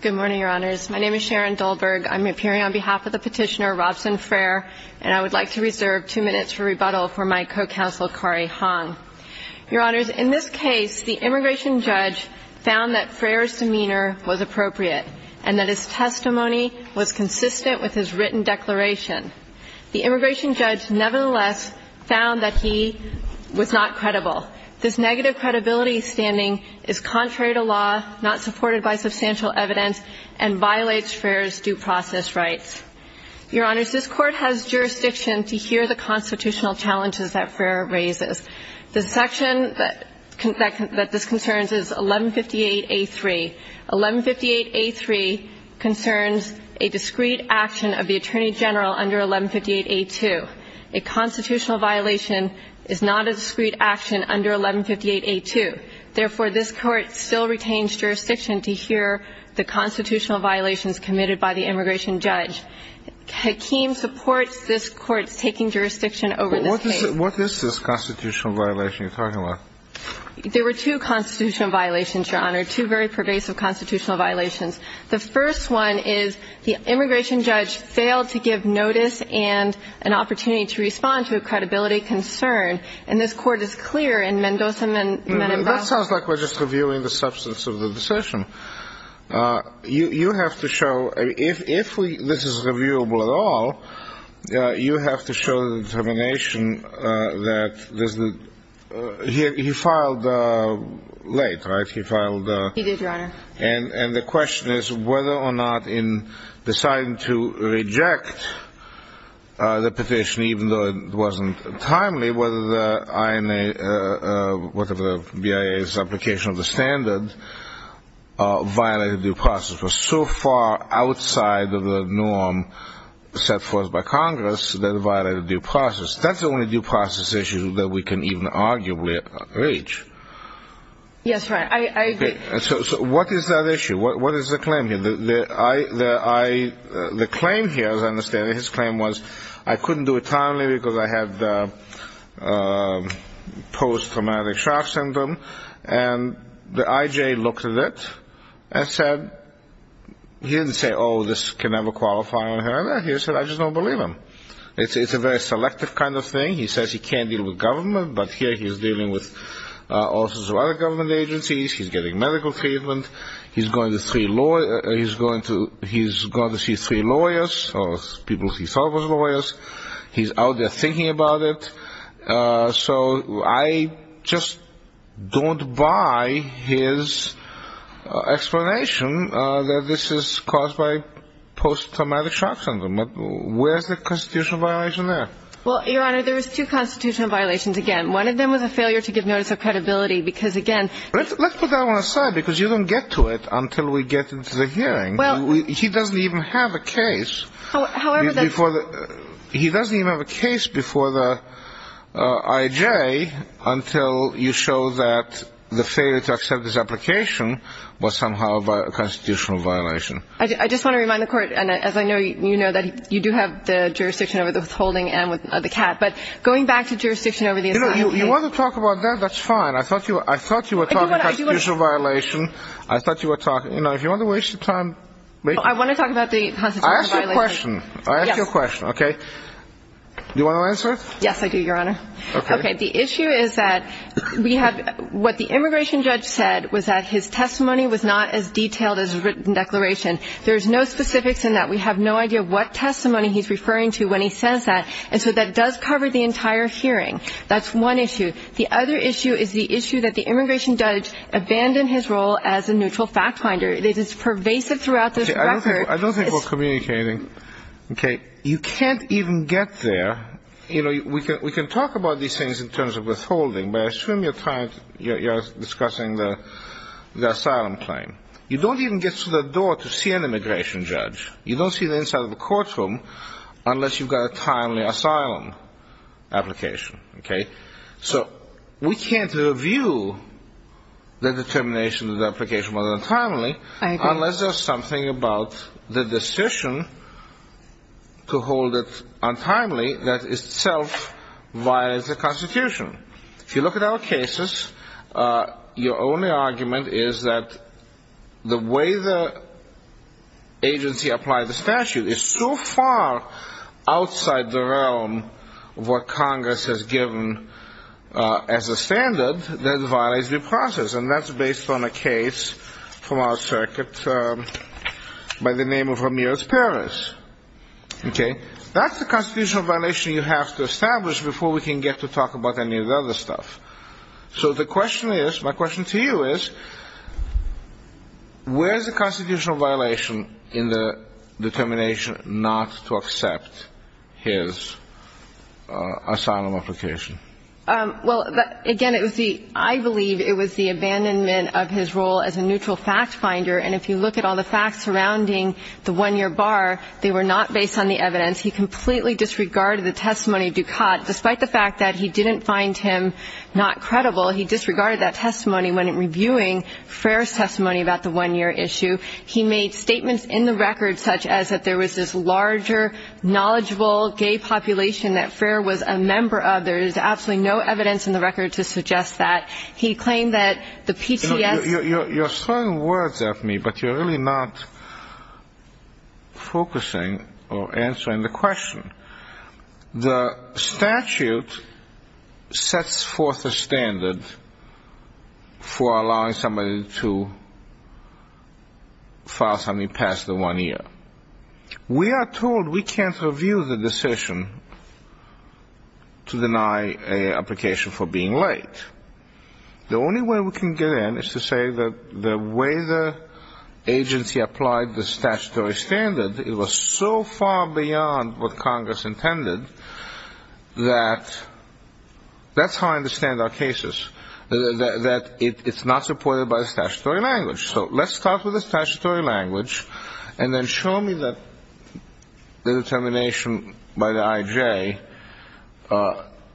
Good morning, Your Honors. My name is Sharon Dahlberg. I'm appearing on behalf of the petitioner Robson Freire, and I would like to reserve two minutes for rebuttal for my co-counsel, Kari Hong. Your Honors, in this case, the immigration judge found that Freire's demeanor was appropriate and that his testimony was consistent with his written declaration. The immigration judge, nevertheless, found that he was not credible. This negative credibility standing is contrary to law, not supported by substantial evidence, and violates Freire's due process rights. Your Honors, this Court has jurisdiction to hear the constitutional challenges that Freire raises. The section that this concerns is 1158A3. 1158A3 concerns a discrete action of the Attorney General under 1158A2. A constitutional violation is not a discrete action under 1158A2. Therefore, this Court still retains jurisdiction to hear the constitutional violations committed by the immigration judge. Hakim supports this Court's taking jurisdiction over this case. What is this constitutional violation you're talking about? There were two constitutional violations, Your Honor, two very pervasive constitutional violations. The first one is the immigration judge failed to give notice and an opportunity to respond to a credibility concern. And this Court is clear in Mendoza and Menendez. That sounds like we're just reviewing the substance of the decision. You have to show, if this is reviewable at all, you have to show the determination that he filed late, right? He did, Your Honor. And the question is whether or not in deciding to reject the petition, even though it wasn't timely, whether the BIA's application of the standard violated due process. It was so far outside of the norm set forth by Congress that it violated due process. That's the only due process issue that we can even arguably reach. Yes, Your Honor, I agree. So what is that issue? What is the claim here? The claim here, as I understand it, his claim was I couldn't do it timely because I had post-traumatic shock syndrome. And the IJ looked at it and said, he didn't say, oh, this can never qualify, Your Honor. He said, I just don't believe him. It's a very selective kind of thing. He says he can't deal with government, but here he's dealing with officers of other government agencies. He's getting medical treatment. He's going to see three lawyers or people he thought were lawyers. He's out there thinking about it. So I just don't buy his explanation that this is caused by post-traumatic shock syndrome. Where's the constitutional violation there? Well, Your Honor, there's two constitutional violations again. One of them was a failure to give notice of credibility because, again ---- Let's put that one aside because you don't get to it until we get into the hearing. He doesn't even have a case before the IJ until you show that the failure to accept his application was somehow a constitutional violation. I just want to remind the Court, as I know you know, that you do have the jurisdiction over the withholding and the CAT. But going back to jurisdiction over the assignment ---- You want to talk about that? That's fine. I thought you were talking about the constitutional violation. I thought you were talking ---- If you want to waste your time ---- I want to talk about the constitutional violation. I asked you a question. Yes. I asked you a question, okay? Do you want to answer it? Yes, I do, Your Honor. Okay. The issue is that what the immigration judge said was that his testimony was not as detailed as a written declaration. There's no specifics in that. We have no idea what testimony he's referring to when he says that. And so that does cover the entire hearing. That's one issue. The other issue is the issue that the immigration judge abandoned his role as a neutral fact finder. It is pervasive throughout this record. I don't think we're communicating. Okay. You can't even get there. You know, we can talk about these things in terms of withholding, but I assume you're discussing the asylum claim. You don't even get to the door to see an immigration judge. You don't see the inside of the courtroom unless you've got a timely asylum application. Okay? So we can't review the determination of the application whether it's timely unless there's something about the decision to hold it untimely that itself violates the Constitution. If you look at our cases, your only argument is that the way the agency applies the statute is so far outside the realm of what Congress has given as a standard that it violates the process. And that's based on a case from our circuit by the name of Ramirez Perez. Okay? That's the constitutional violation you have to establish before we can get to talk about any of the other stuff. So the question is, my question to you is, where is the constitutional violation in the determination not to accept his asylum application? Well, again, it was the ‑‑ I believe it was the abandonment of his role as a neutral fact finder. And if you look at all the facts surrounding the one‑year bar, they were not based on the evidence. He completely disregarded the testimony of Dukat. Despite the fact that he didn't find him not credible, he disregarded that testimony when reviewing Frere's testimony about the one‑year issue. He made statements in the record such as that there was this larger knowledgeable gay population that Frere was a member of. There is absolutely no evidence in the record to suggest that. He claimed that the PCS ‑‑ You're throwing words at me, but you're really not focusing or answering the question. The statute sets forth a standard for allowing somebody to file something past the one‑year. We are told we can't review the decision to deny an application for being late. The only way we can get in is to say that the way the agency applied the statutory standard, it was so far beyond what Congress intended that that's how I understand our cases, that it's not supported by the statutory language. So let's start with the statutory language and then show me that the determination by the IJ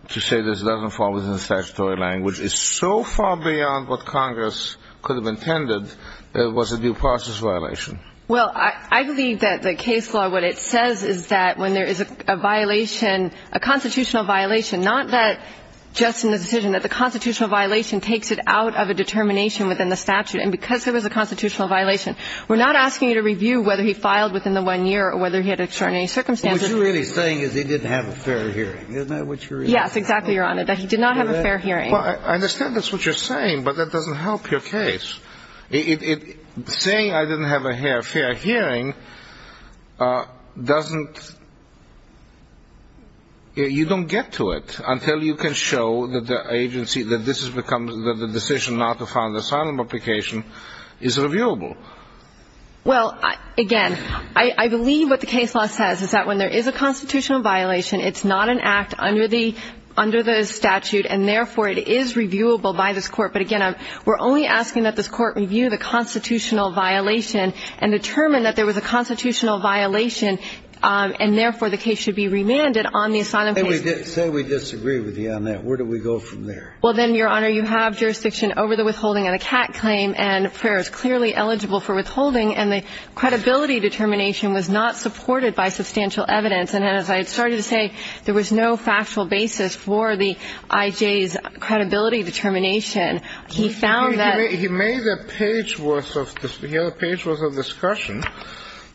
to say this doesn't fall within the statutory language is so far beyond what Congress could have intended that it was a due process violation. Well, I believe that the case law, what it says is that when there is a violation, a constitutional violation, not that just in the decision, that the constitutional violation takes it out of a determination within the statute. And because there was a constitutional violation, we're not asking you to review whether he filed within the one year or whether he had extraordinary circumstances. What you're really saying is he didn't have a fair hearing, isn't that what you're saying? Yes, exactly, Your Honor, that he did not have a fair hearing. Well, I understand that's what you're saying, but that doesn't help your case. Saying I didn't have a fair hearing doesn't ‑‑ you don't get to it until you can show that the agency, that this has become, that the decision not to file an asylum application is reviewable. Well, again, I believe what the case law says is that when there is a constitutional violation, it's not an act under the ‑‑ under the statute, and therefore it is reviewable by this Court. But again, we're only asking that this Court review the constitutional violation and determine that there was a constitutional violation and therefore the case should be remanded on the asylum case. Say we disagree with you on that. Where do we go from there? Well, then, Your Honor, you have jurisdiction over the withholding of the CAC claim and Ferrer is clearly eligible for withholding, and the credibility determination was not supported by substantial evidence. And as I started to say, there was no factual basis for the IJ's credibility determination. He found that ‑‑ He made a page worth of ‑‑ he had a page worth of discussion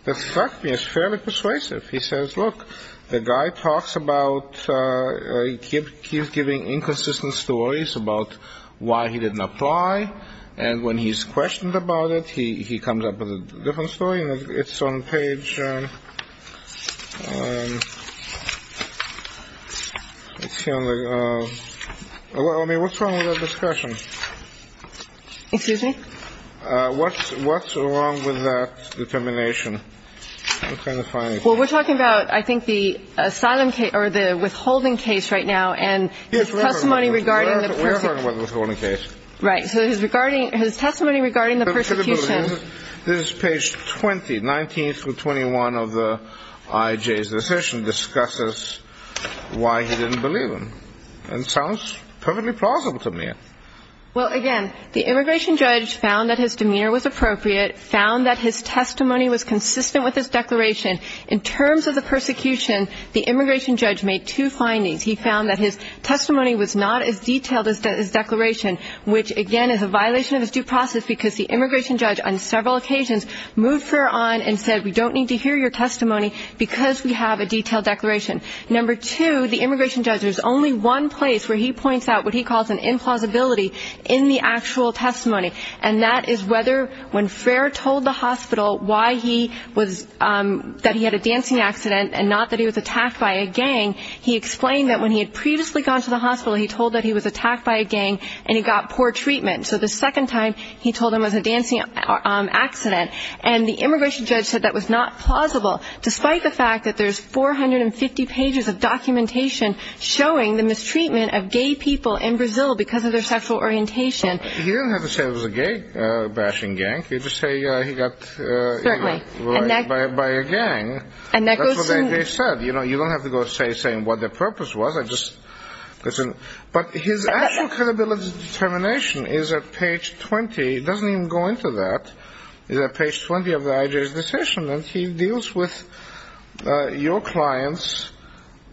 that struck me as fairly persuasive. He says, look, the guy talks about, he keeps giving inconsistent stories about why he didn't apply, and when he's questioned about it, he comes up with a different story. And it's on page ‑‑ let's see on the ‑‑ what's wrong with that discussion? Excuse me? What's wrong with that determination? I'm trying to find it. Well, we're talking about, I think, the asylum case or the withholding case right now and his testimony regarding the person ‑‑ We're talking about the withholding case. Right, so his testimony regarding the persecution. This is page 20, 19 through 21 of the IJ's decision discusses why he didn't believe him. And it sounds perfectly plausible to me. Well, again, the immigration judge found that his demeanor was appropriate, found that his testimony was consistent with his declaration. In terms of the persecution, the immigration judge made two findings. He found that his testimony was not as detailed as his declaration, which, again, is a violation of his due process because the immigration judge on several occasions moved Frere on and said, we don't need to hear your testimony because we have a detailed declaration. Number two, the immigration judge, there's only one place where he points out what he calls an implausibility in the actual testimony, and that is whether when Frere told the hospital why he was ‑‑ that he had a dancing accident and not that he was attacked by a gang, he explained that when he had previously gone to the hospital, he told that he was attacked by a gang and he got poor treatment. So the second time he told him it was a dancing accident. And the immigration judge said that was not plausible, despite the fact that there's 450 pages of documentation showing the mistreatment of gay people in Brazil because of their sexual orientation. He didn't have to say it was a gay bashing gang. He could just say he got ‑‑ Certainly. By a gang. That's what they said. You don't have to go saying what their purpose was. But his actual credibility determination is at page 20. It doesn't even go into that. It's at page 20 of the IJ's decision. And he deals with your client's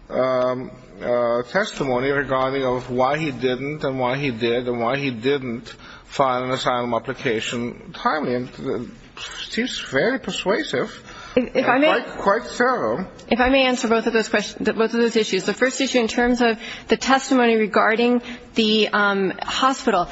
testimony regarding why he didn't and why he did and why he didn't file an asylum application timely. Seems very persuasive. Quite thorough. If I may answer both of those issues. The first issue in terms of the testimony regarding the hospital,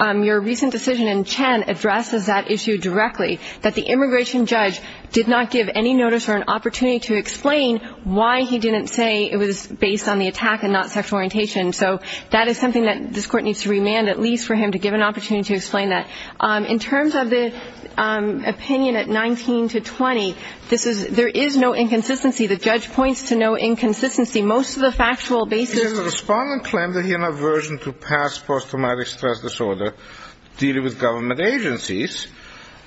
your recent decision in Chen addresses that issue directly, that the immigration judge did not give any notice or an opportunity to explain why he didn't say it was based on the attack and not sexual orientation. So that is something that this court needs to remand at least for him to give an opportunity to explain that. In terms of the opinion at 19 to 20, there is no inconsistency. The judge points to no inconsistency. Most of the factual basis ‑‑ The respondent claimed that he had an aversion to past post traumatic stress disorder, dealing with government agencies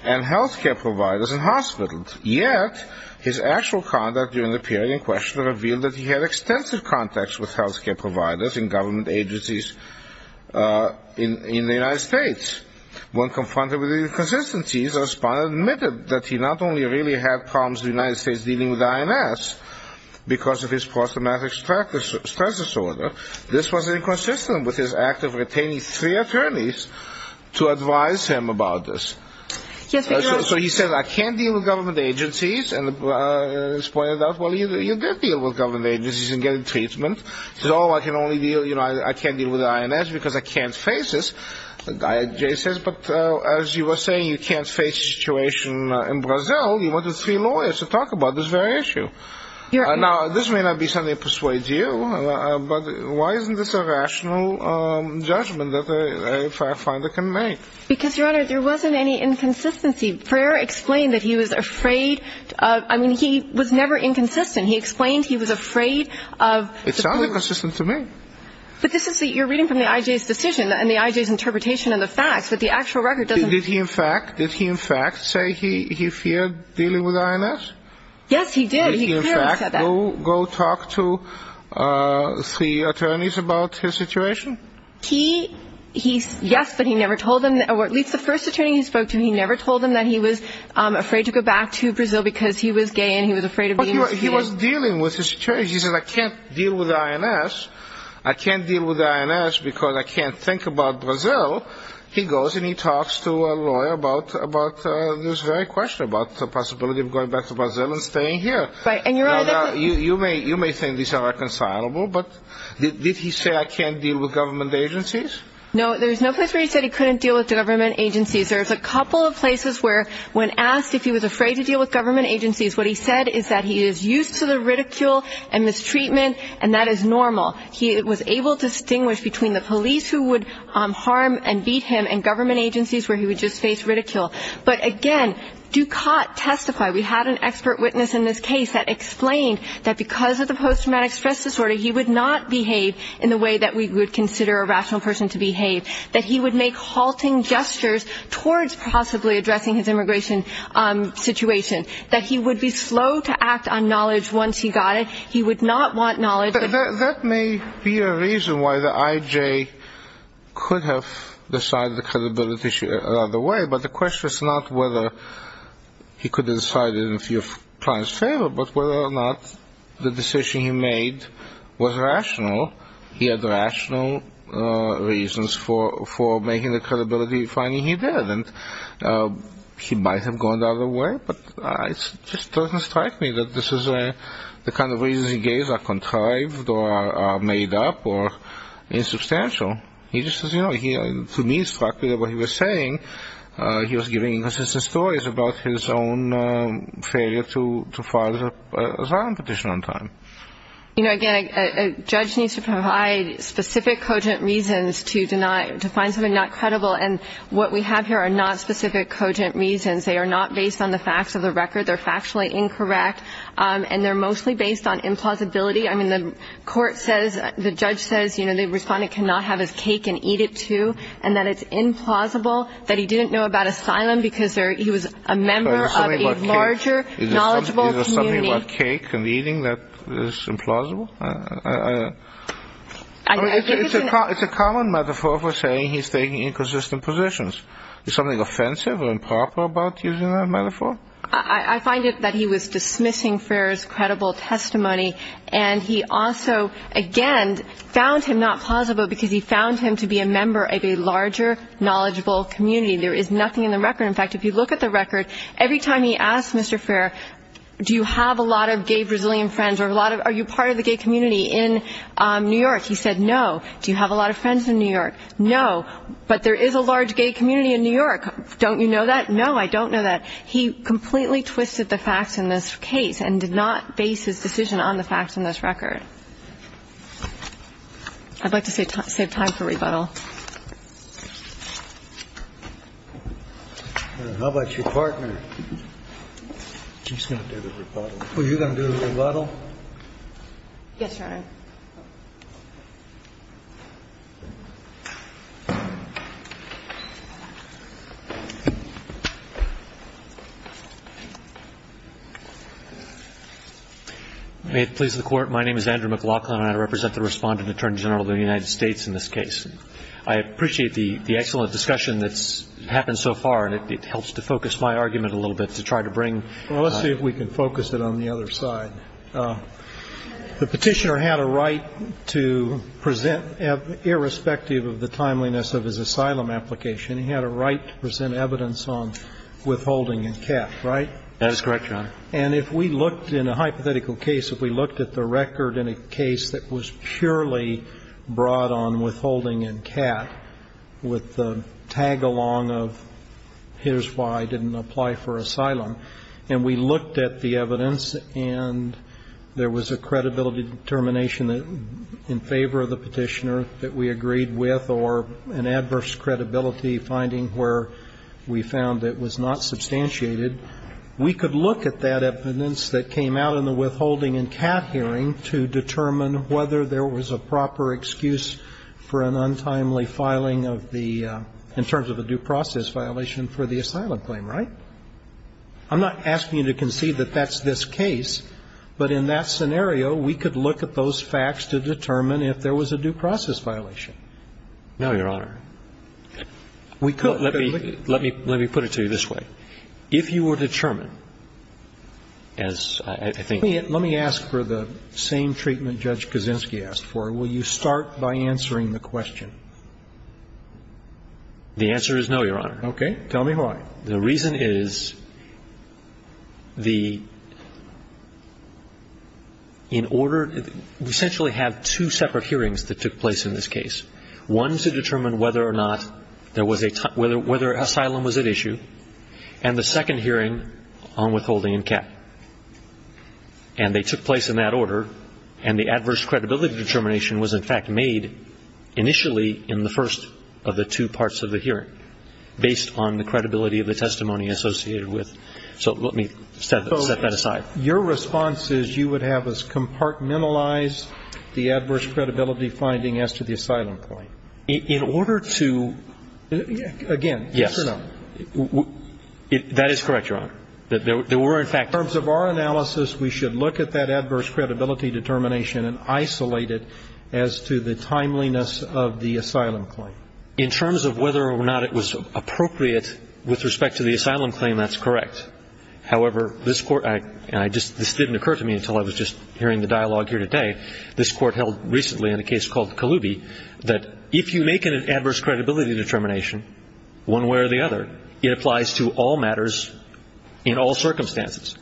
and health care providers and hospitals. Yet his actual conduct during the period in question revealed that he had extensive contacts with health care providers and government agencies in the United States. When confronted with inconsistencies, the respondent admitted that he not only really had problems in the United States dealing with INS because of his post traumatic stress disorder, this was inconsistent with his act of retaining three attorneys to advise him about this. So he said, I can't deal with government agencies. And his point is that, well, you did deal with government agencies in getting treatment. He said, oh, I can only deal, you know, I can't deal with INS because I can't face this. But as you were saying, you can't face the situation in Brazil. You went to three lawyers to talk about this very issue. Now, this may not be something that persuades you, but why isn't this a rational judgment that a fact finder can make? Because, Your Honor, there wasn't any inconsistency. Freer explained that he was afraid of ‑‑ I mean, he was never inconsistent. He explained he was afraid of ‑‑ It sounds inconsistent to me. But this is the ‑‑ you're reading from the IJ's decision and the IJ's interpretation of the facts, that the actual record doesn't ‑‑ Did he in fact say he feared dealing with INS? Yes, he did. He clearly said that. Did he in fact go talk to three attorneys about his situation? He, yes, but he never told them, or at least the first attorney he spoke to, he never told them that he was afraid to go back to Brazil because he was gay and he was afraid of being executed. But he was dealing with his situation. And he said, I can't deal with INS. I can't deal with INS because I can't think about Brazil. He goes and he talks to a lawyer about this very question, about the possibility of going back to Brazil and staying here. Right, and, Your Honor, that's what ‑‑ You may think these are reconcilable, but did he say, I can't deal with government agencies? No, there's no place where he said he couldn't deal with government agencies. There's a couple of places where when asked if he was afraid to deal with government agencies, what he said is that he is used to the ridicule and mistreatment, and that is normal. He was able to distinguish between the police who would harm and beat him and government agencies where he would just face ridicule. But, again, Dukat testified. We had an expert witness in this case that explained that because of the posttraumatic stress disorder, he would not behave in the way that we would consider a rational person to behave, that he would make halting gestures towards possibly addressing his immigration situation, that he would be slow to act on knowledge once he got it. He would not want knowledge. That may be a reason why the IJ could have decided the credibility issue out of the way, but the question is not whether he could have decided it in the view of client's favor, but whether or not the decision he made was rational. He had rational reasons for making the credibility finding he did, and he might have gone the other way, but it just doesn't strike me that this is the kind of reasons he gave that are contrived or made up or insubstantial. To me, it struck me that what he was saying, he was giving inconsistent stories about his own failure to file an asylum petition on time. You know, again, a judge needs to provide specific cogent reasons to find something not credible, and what we have here are not specific cogent reasons. They are not based on the facts of the record. They're factually incorrect, and they're mostly based on implausibility. I mean, the court says, the judge says, you know, the respondent cannot have his cake and eat it too, and that it's implausible that he didn't know about asylum because he was a member of a larger knowledgeable community. Is there something about cake and eating that is implausible? It's a common metaphor for saying he's taking inconsistent positions. Is something offensive or improper about using that metaphor? I find it that he was dismissing Ferrer's credible testimony, and he also, again, found him not plausible because he found him to be a member of a larger knowledgeable community. There is nothing in the record. In fact, if you look at the record, every time he asked Mr. Ferrer, do you have a lot of gay Brazilian friends or are you part of the gay community, in New York, he said no. Do you have a lot of friends in New York? No. But there is a large gay community in New York. Don't you know that? No, I don't know that. He completely twisted the facts in this case and did not base his decision on the facts in this record. I'd like to save time for rebuttal. How about your partner? He's going to do the rebuttal. Are you going to do the rebuttal? Yes, Your Honor. May it please the Court. My name is Andrew McLaughlin, and I represent the Respondent Attorney General of the United States in this case. I appreciate the excellent discussion that's happened so far, and it helps to focus my argument a little bit to try to bring. Well, let's see if we can focus it on the other side. The Petitioner had a right to present, irrespective of the timeliness of his asylum application, he had a right to present evidence on withholding in Kat, right? That is correct, Your Honor. And if we looked in a hypothetical case, if we looked at the record in a case that was purely brought on withholding in Kat with the tag-along of here's why I didn't apply for asylum, and we looked at the evidence and there was a credibility determination in favor of the Petitioner that we agreed with or an adverse credibility finding where we found it was not substantiated, we could look at that evidence that came out in the withholding in Kat hearing to determine whether there was a proper excuse for an untimely filing of the, in terms of a due process violation for the asylum claim, right? I'm not asking you to concede that that's this case, but in that scenario, we could look at those facts to determine if there was a due process violation. No, Your Honor. We could. Let me put it to you this way. If you were to determine, as I think you would. Let me ask for the same treatment Judge Kaczynski asked for. Will you start by answering the question? The answer is no, Your Honor. Okay. Tell me why. The reason is the – in order – we essentially have two separate hearings that took place in this case. One to determine whether or not there was a – whether asylum was at issue, and the second hearing on withholding in Kat. And they took place in that order, and the adverse credibility determination was in fact made initially in the first of the two parts of the hearing based on the credibility of the testimony associated with – so let me set that aside. Your response is you would have us compartmentalize the adverse credibility finding as to the asylum claim. In order to – Again, no. Yes. That is correct, Your Honor. There were in fact – In terms of our analysis, we should look at that adverse credibility determination and isolate it as to the timeliness of the asylum claim. In terms of whether or not it was appropriate with respect to the asylum claim, that's correct. However, this Court – and I just – this didn't occur to me until I was just hearing the dialogue here today. This Court held recently in a case called Kaloubi that if you make an adverse credibility determination one way or the other, it applies to all matters in all circumstances.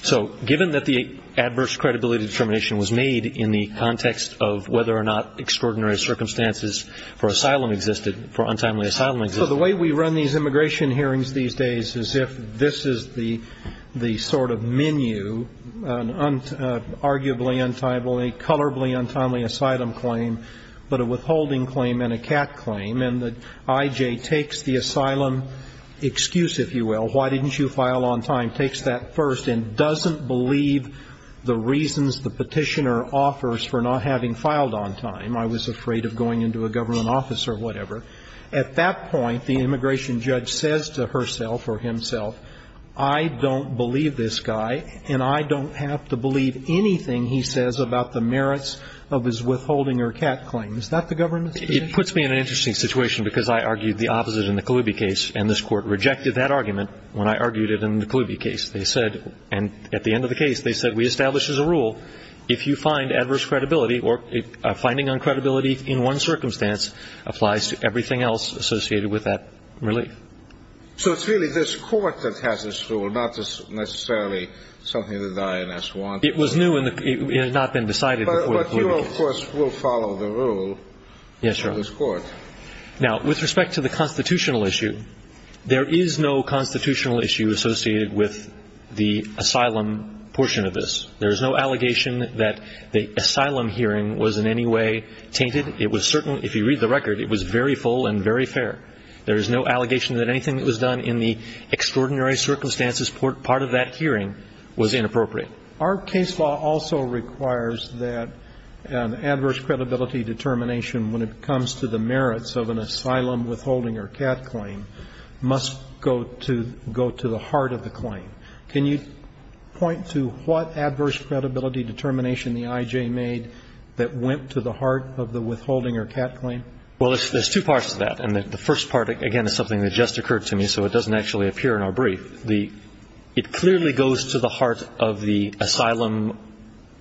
So given that the adverse credibility determination was made in the context of whether or not extraordinary circumstances for asylum existed, for untimely asylum existed – So the way we run these immigration hearings these days is if this is the sort of menu, an arguably untimely, colorably untimely asylum claim, but a withholding claim and a cat claim, and the I.J. takes the asylum excuse, if you will, why didn't you file on time, takes that first and doesn't believe the reasons the petitioner offers for not having filed on time, I was afraid of going into a government office or whatever. At that point, the immigration judge says to herself or himself, I don't believe this guy and I don't have to believe anything he says about the merits of his withholding or cat claim. Is that the government's position? It puts me in an interesting situation because I argued the opposite in the Kaloubi case, and this Court rejected that argument when I argued it in the Kaloubi case. They said – and at the end of the case, they said we establish as a rule if you find adverse credibility or finding uncredibility in one circumstance applies to everything else associated with that relief. So it's really this Court that has this rule, not necessarily something that the INS wants. It was new and it had not been decided before the Kaloubi case. But you, of course, will follow the rule of this Court. Yes, Your Honor. Now, with respect to the constitutional issue, there is no constitutional issue associated with the asylum portion of this. There is no allegation that the asylum hearing was in any way tainted. It was certain – if you read the record, it was very full and very fair. There is no allegation that anything that was done in the extraordinary circumstances part of that hearing was inappropriate. Our case law also requires that an adverse credibility determination when it comes to the merits of an asylum withholding or cat claim must go to the heart of the claim. Can you point to what adverse credibility determination the I.J. made that went to the heart of the withholding or cat claim? Well, there's two parts to that. And the first part, again, is something that just occurred to me, so it doesn't actually appear in our brief. It clearly goes to the heart of the asylum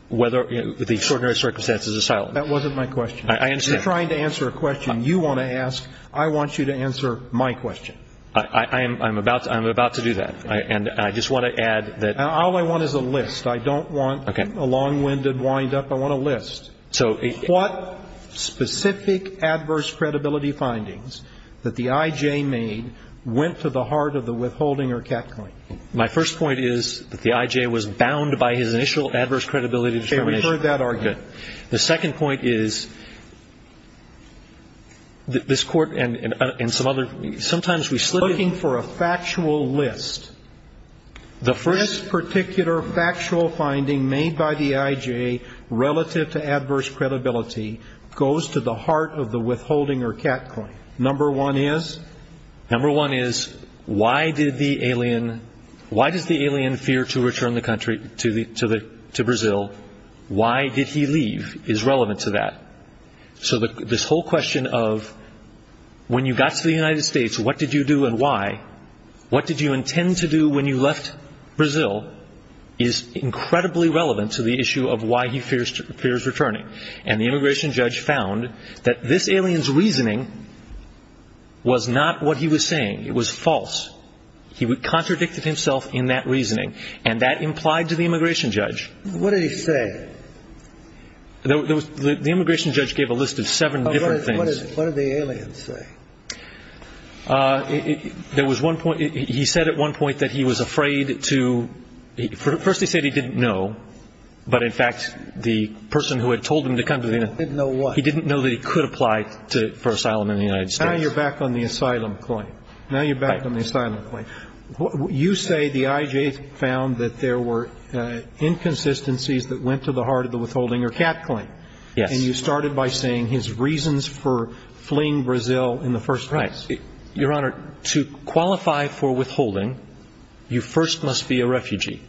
whether – the extraordinary circumstances asylum. That wasn't my question. I understand. You're trying to answer a question you want to ask. I want you to answer my question. I'm about to do that. And I just want to add that – All I want is a list. I don't want a long-winded windup. I want a list. So – What specific adverse credibility findings that the I.J. made went to the heart of the withholding or cat claim? My first point is that the I.J. was bound by his initial adverse credibility determination. Okay. We've heard that argument. The second point is this Court and some other – sometimes we slip in – this particular factual finding made by the I.J. relative to adverse credibility goes to the heart of the withholding or cat claim. Number one is? Number one is why did the alien – why does the alien fear to return the country to Brazil? Why did he leave is relevant to that. So this whole question of when you got to the United States, what did you do and why? What did you intend to do when you left Brazil is incredibly relevant to the issue of why he fears returning. And the immigration judge found that this alien's reasoning was not what he was saying. It was false. He contradicted himself in that reasoning. And that implied to the immigration judge – What did he say? The immigration judge gave a list of seven different things. What did the alien say? There was one point – he said at one point that he was afraid to – first he said he didn't know, but, in fact, the person who had told him to come to the United – He didn't know what? He didn't know that he could apply for asylum in the United States. Now you're back on the asylum claim. Now you're back on the asylum claim. You say the I.J. found that there were inconsistencies that went to the heart of the withholding or cat claim. Yes. And you started by saying his reasons for fleeing Brazil in the first place. Right. Your Honor, to qualify for withholding, you first must be a refugee.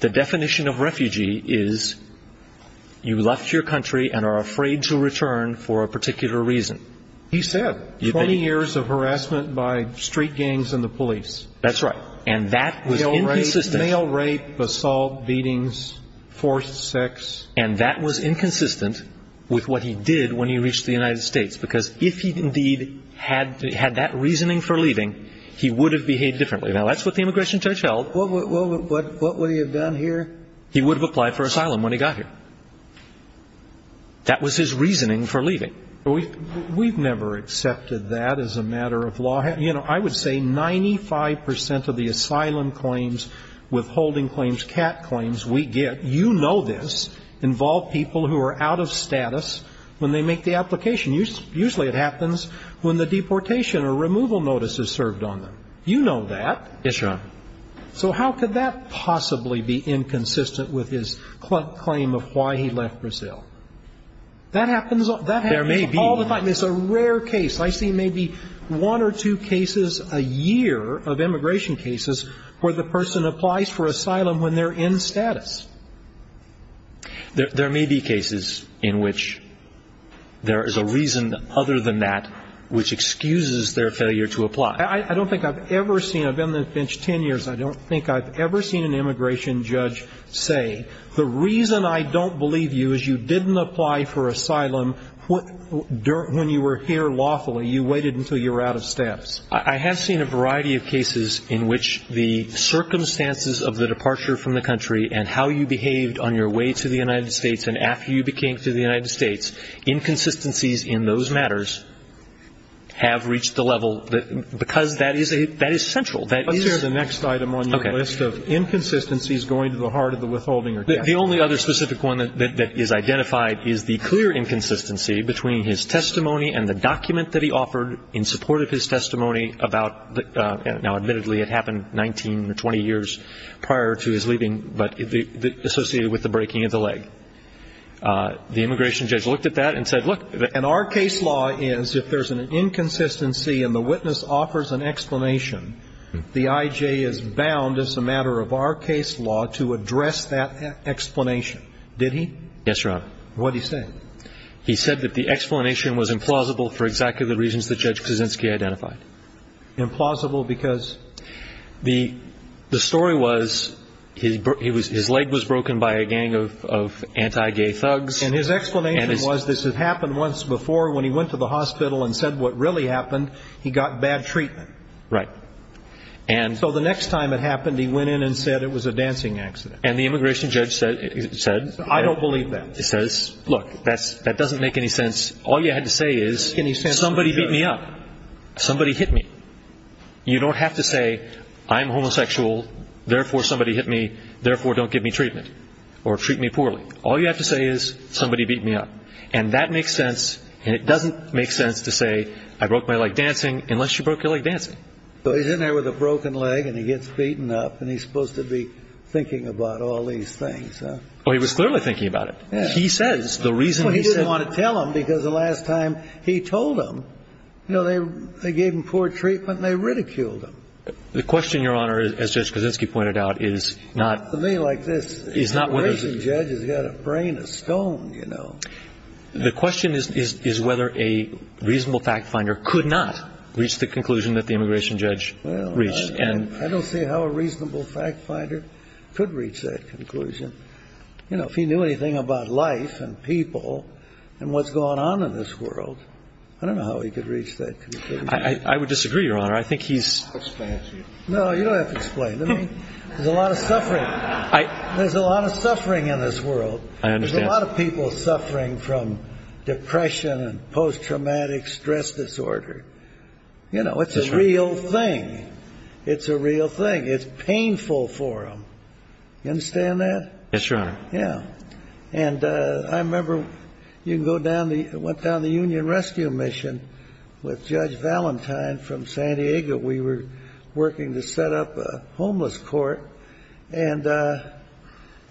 The definition of refugee is you left your country and are afraid to return for a particular reason. He said 20 years of harassment by street gangs and the police. That's right. And that was inconsistent. Male rape, assault, beatings, forced sex. And that was inconsistent with what he did when he reached the United States because if he indeed had that reasoning for leaving, he would have behaved differently. Now that's what the immigration judge held. What would he have done here? He would have applied for asylum when he got here. That was his reasoning for leaving. We've never accepted that as a matter of law. You know, I would say 95 percent of the asylum claims, withholding claims, cat claims we get – you know this – involve people who are out of status when they make the application. Usually it happens when the deportation or removal notice is served on them. You know that. Yes, Your Honor. So how could that possibly be inconsistent with his claim of why he left Brazil? That happens all the time. There may be. It's a rare case. I see maybe one or two cases a year of immigration cases where the person applies for asylum when they're in status. There may be cases in which there is a reason other than that which excuses their failure to apply. I don't think I've ever seen – I've been on the bench 10 years. I don't think I've ever seen an immigration judge say, the reason I don't believe you is you didn't apply for asylum when you were here lawfully. You waited until you were out of steps. I have seen a variety of cases in which the circumstances of the departure from the country and how you behaved on your way to the United States and after you became to the United States, inconsistencies in those matters have reached the level – because that is central. Let's hear the next item on your list of inconsistencies going to the heart of the withholding. The only other specific one that is identified is the clear inconsistency between his testimony and the document that he offered in support of his testimony about – now admittedly it happened 19 or 20 years prior to his leaving, but associated with the breaking of the leg. The immigration judge looked at that and said, look – And our case law is if there's an inconsistency and the witness offers an explanation, the IJ is bound as a matter of our case law to address that explanation. Did he? Yes, Your Honor. What did he say? He said that the explanation was implausible for exactly the reasons that Judge Kuczynski identified. Implausible because? The story was his leg was broken by a gang of anti-gay thugs. And his explanation was this had happened once before when he went to the hospital and said what really happened, he got bad treatment. Right. So the next time it happened, he went in and said it was a dancing accident. And the immigration judge said – I don't believe that. He says, look, that doesn't make any sense. All you had to say is somebody beat me up. Somebody hit me. You don't have to say I'm homosexual, therefore somebody hit me, therefore don't give me treatment or treat me poorly. All you have to say is somebody beat me up. And that makes sense and it doesn't make sense to say I broke my leg dancing unless you broke your leg dancing. So he's in there with a broken leg and he gets beaten up and he's supposed to be thinking about all these things, huh? Oh, he was clearly thinking about it. He says the reason he said – Well, he didn't want to tell them because the last time he told them, you know, they gave him poor treatment and they ridiculed him. The question, Your Honor, as Judge Kaczynski pointed out, is not – For me like this, the immigration judge has got a brain of stone, you know. The question is whether a reasonable fact finder could not reach the conclusion that the immigration judge reached. I don't see how a reasonable fact finder could reach that conclusion. You know, if he knew anything about life and people and what's going on in this world, I don't know how he could reach that conclusion. I would disagree, Your Honor. I think he's – I'll explain it to you. No, you don't have to explain it to me. There's a lot of suffering. There's a lot of suffering in this world. There's a lot of people suffering from depression and post-traumatic stress disorder. You know, it's a real thing. It's a real thing. It's painful for them. You understand that? Yes, Your Honor. Yeah. And I remember you can go down the – went down the Union Rescue Mission with Judge Valentine from San Diego. We were working to set up a homeless court, and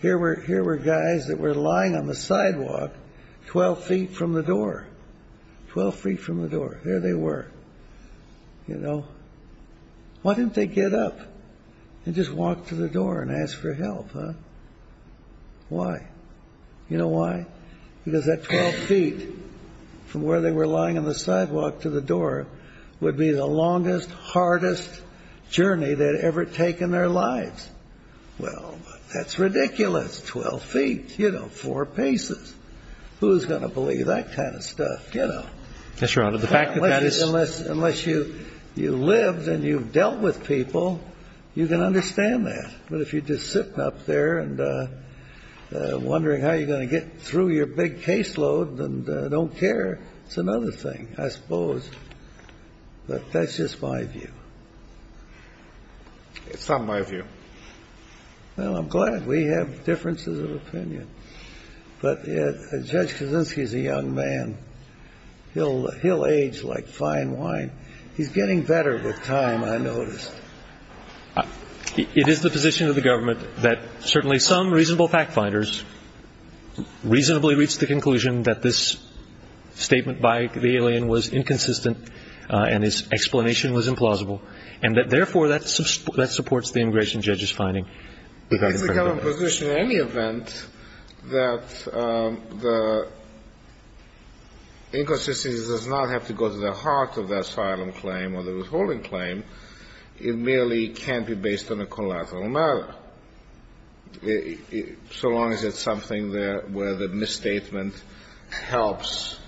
here were guys that were lying on the sidewalk 12 feet from the door, 12 feet from the door. There they were, you know. Why didn't they get up and just walk to the door and ask for help, huh? Why? You know why? Because that 12 feet from where they were lying on the sidewalk to the door would be the longest, hardest journey they'd ever taken their lives. Well, that's ridiculous, 12 feet. You know, four paces. Who's going to believe that kind of stuff, you know? Yes, Your Honor. Unless you lived and you've dealt with people, you can understand that. But if you're just sitting up there and wondering how you're going to get through your big caseload and don't care, it's another thing, I suppose. But that's just my view. It's not my view. Well, I'm glad we have differences of opinion. But Judge Kaczynski is a young man. He'll age like fine wine. He's getting better with time, I noticed. It is the position of the government that certainly some reasonable fact-finders reasonably reached the conclusion that this statement by the alien was inconsistent and his explanation was implausible, and that therefore that supports the immigration judge's finding. It's the government's position in any event that the inconsistency does not have to go to the heart of the asylum claim or the withholding claim. It merely can be based on a collateral matter, so long as it's something where the misstatement helps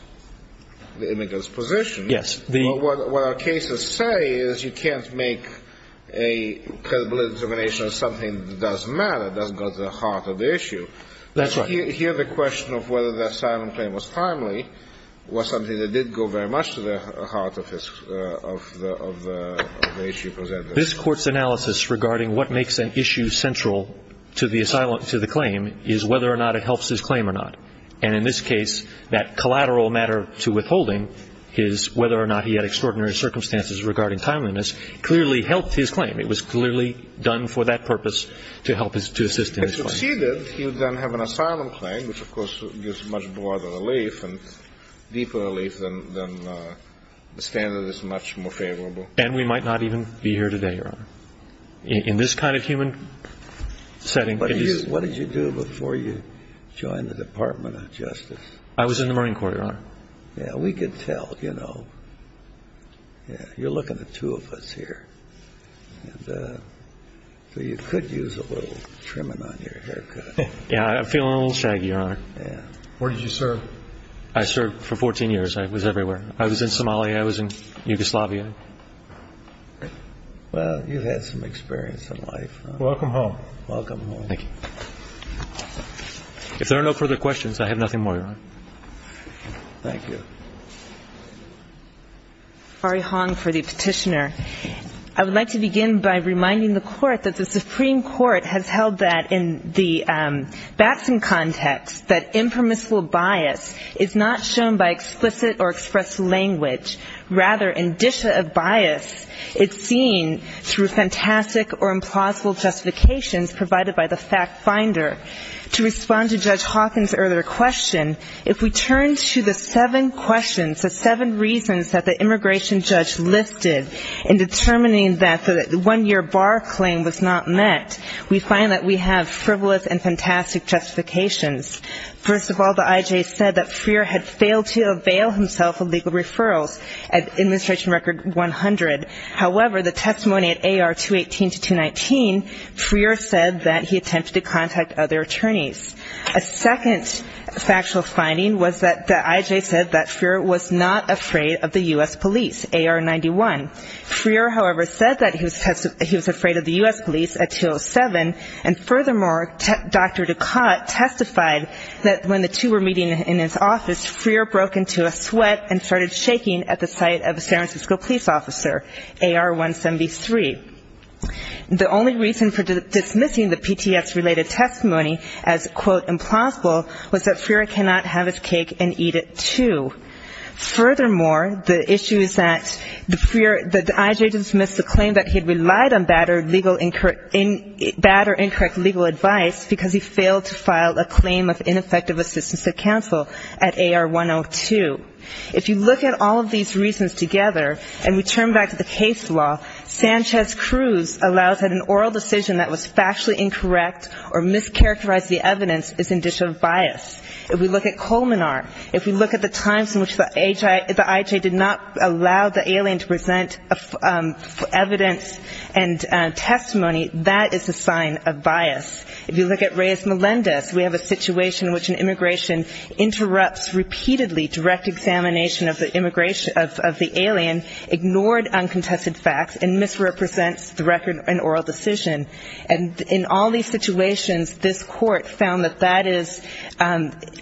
the immigrant's position. Yes. Well, what our cases say is you can't make a credible determination of something that doesn't matter, doesn't go to the heart of the issue. That's right. Here the question of whether the asylum claim was timely was something that did go very much to the heart of the issue presented. This Court's analysis regarding what makes an issue central to the claim is whether or not it helps his claim or not. And in this case, that collateral matter to withholding, his whether or not he had extraordinary circumstances regarding timeliness, clearly helped his claim. It was clearly done for that purpose to help his to assist in his claim. If it succeeded, he would then have an asylum claim, which, of course, gives much broader relief and deeper relief than the standard that's much more favorable. And we might not even be here today, Your Honor. In this kind of human setting, it is. What did you do before you joined the Department of Justice? I was in the Marine Corps, Your Honor. Yeah, we could tell, you know. You're looking at two of us here. So you could use a little trimming on your haircut. Yeah, I'm feeling a little shaggy, Your Honor. Yeah. Where did you serve? I served for 14 years. I was everywhere. I was in Somalia. I was in Yugoslavia. Well, you've had some experience in life. Welcome home. Thank you. If there are no further questions, I have nothing more, Your Honor. Thank you. Ari Hong for the Petitioner. I would like to begin by reminding the Court that the Supreme Court has held that in the Batson context that impermissible bias is not shown by explicit or expressed language. Rather, indicia of bias is seen through fantastic or implausible justification provided by the fact finder. To respond to Judge Hawkins' earlier question, if we turn to the seven questions, the seven reasons that the immigration judge listed in determining that the one-year bar claim was not met, we find that we have frivolous and fantastic justifications. First of all, the IJ said that Freer had failed to avail himself of legal referrals at administration record 100. However, the testimony at AR 218 to 219, Freer said that he attempted to contact other attorneys. A second factual finding was that the IJ said that Freer was not afraid of the U.S. police, AR 91. Freer, however, said that he was afraid of the U.S. police at 207. And furthermore, Dr. Ducotte testified that when the two were meeting in his office, Freer broke into a sweat and started shaking at the sight of a San Francisco police officer, AR 173. The only reason for dismissing the PTS-related testimony as, quote, implausible was that Freer cannot have his cake and eat it, too. Furthermore, the issue is that the IJ dismissed the claim that he had relied on bad or incorrect legal advice because he failed to file a claim of ineffective assistance to counsel at AR 102. If you look at all of these reasons together, and we turn back to the case law, Sanchez-Cruz allows that an oral decision that was factually incorrect or mischaracterized the evidence is indicative of bias. If we look at Colmenar, if we look at the times in which the IJ did not allow the alien to present evidence and testimony, that is a sign of bias. If you look at Reyes-Melendez, we have a situation in which an immigration interrupts repeatedly direct examination of the alien, ignored uncontested facts, and misrepresents the record and oral decision. And in all these situations, this court found that that is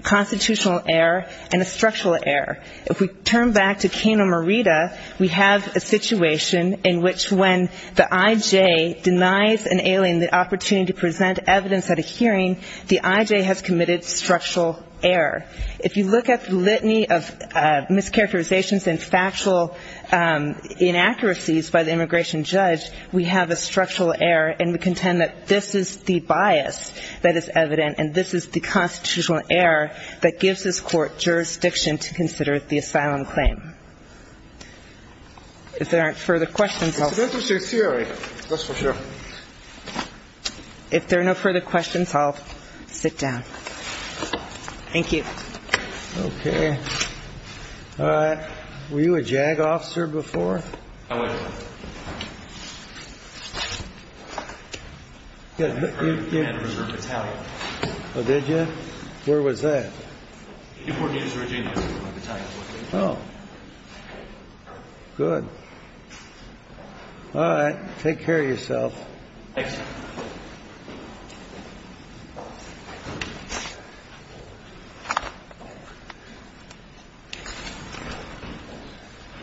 constitutional error and a structural error. If we turn back to Kano-Morita, we have a situation in which when the IJ denies an alien the opportunity to present evidence at a hearing, the IJ has committed structural error. If you look at the litany of mischaracterizations and factual inaccuracies by the immigration judge, we have a structural error and we contend that this is the bias that is evident and this is the constitutional error that gives this court jurisdiction to consider the asylum claim. If there are no further questions, I'll sit down. Thank you. Thank you.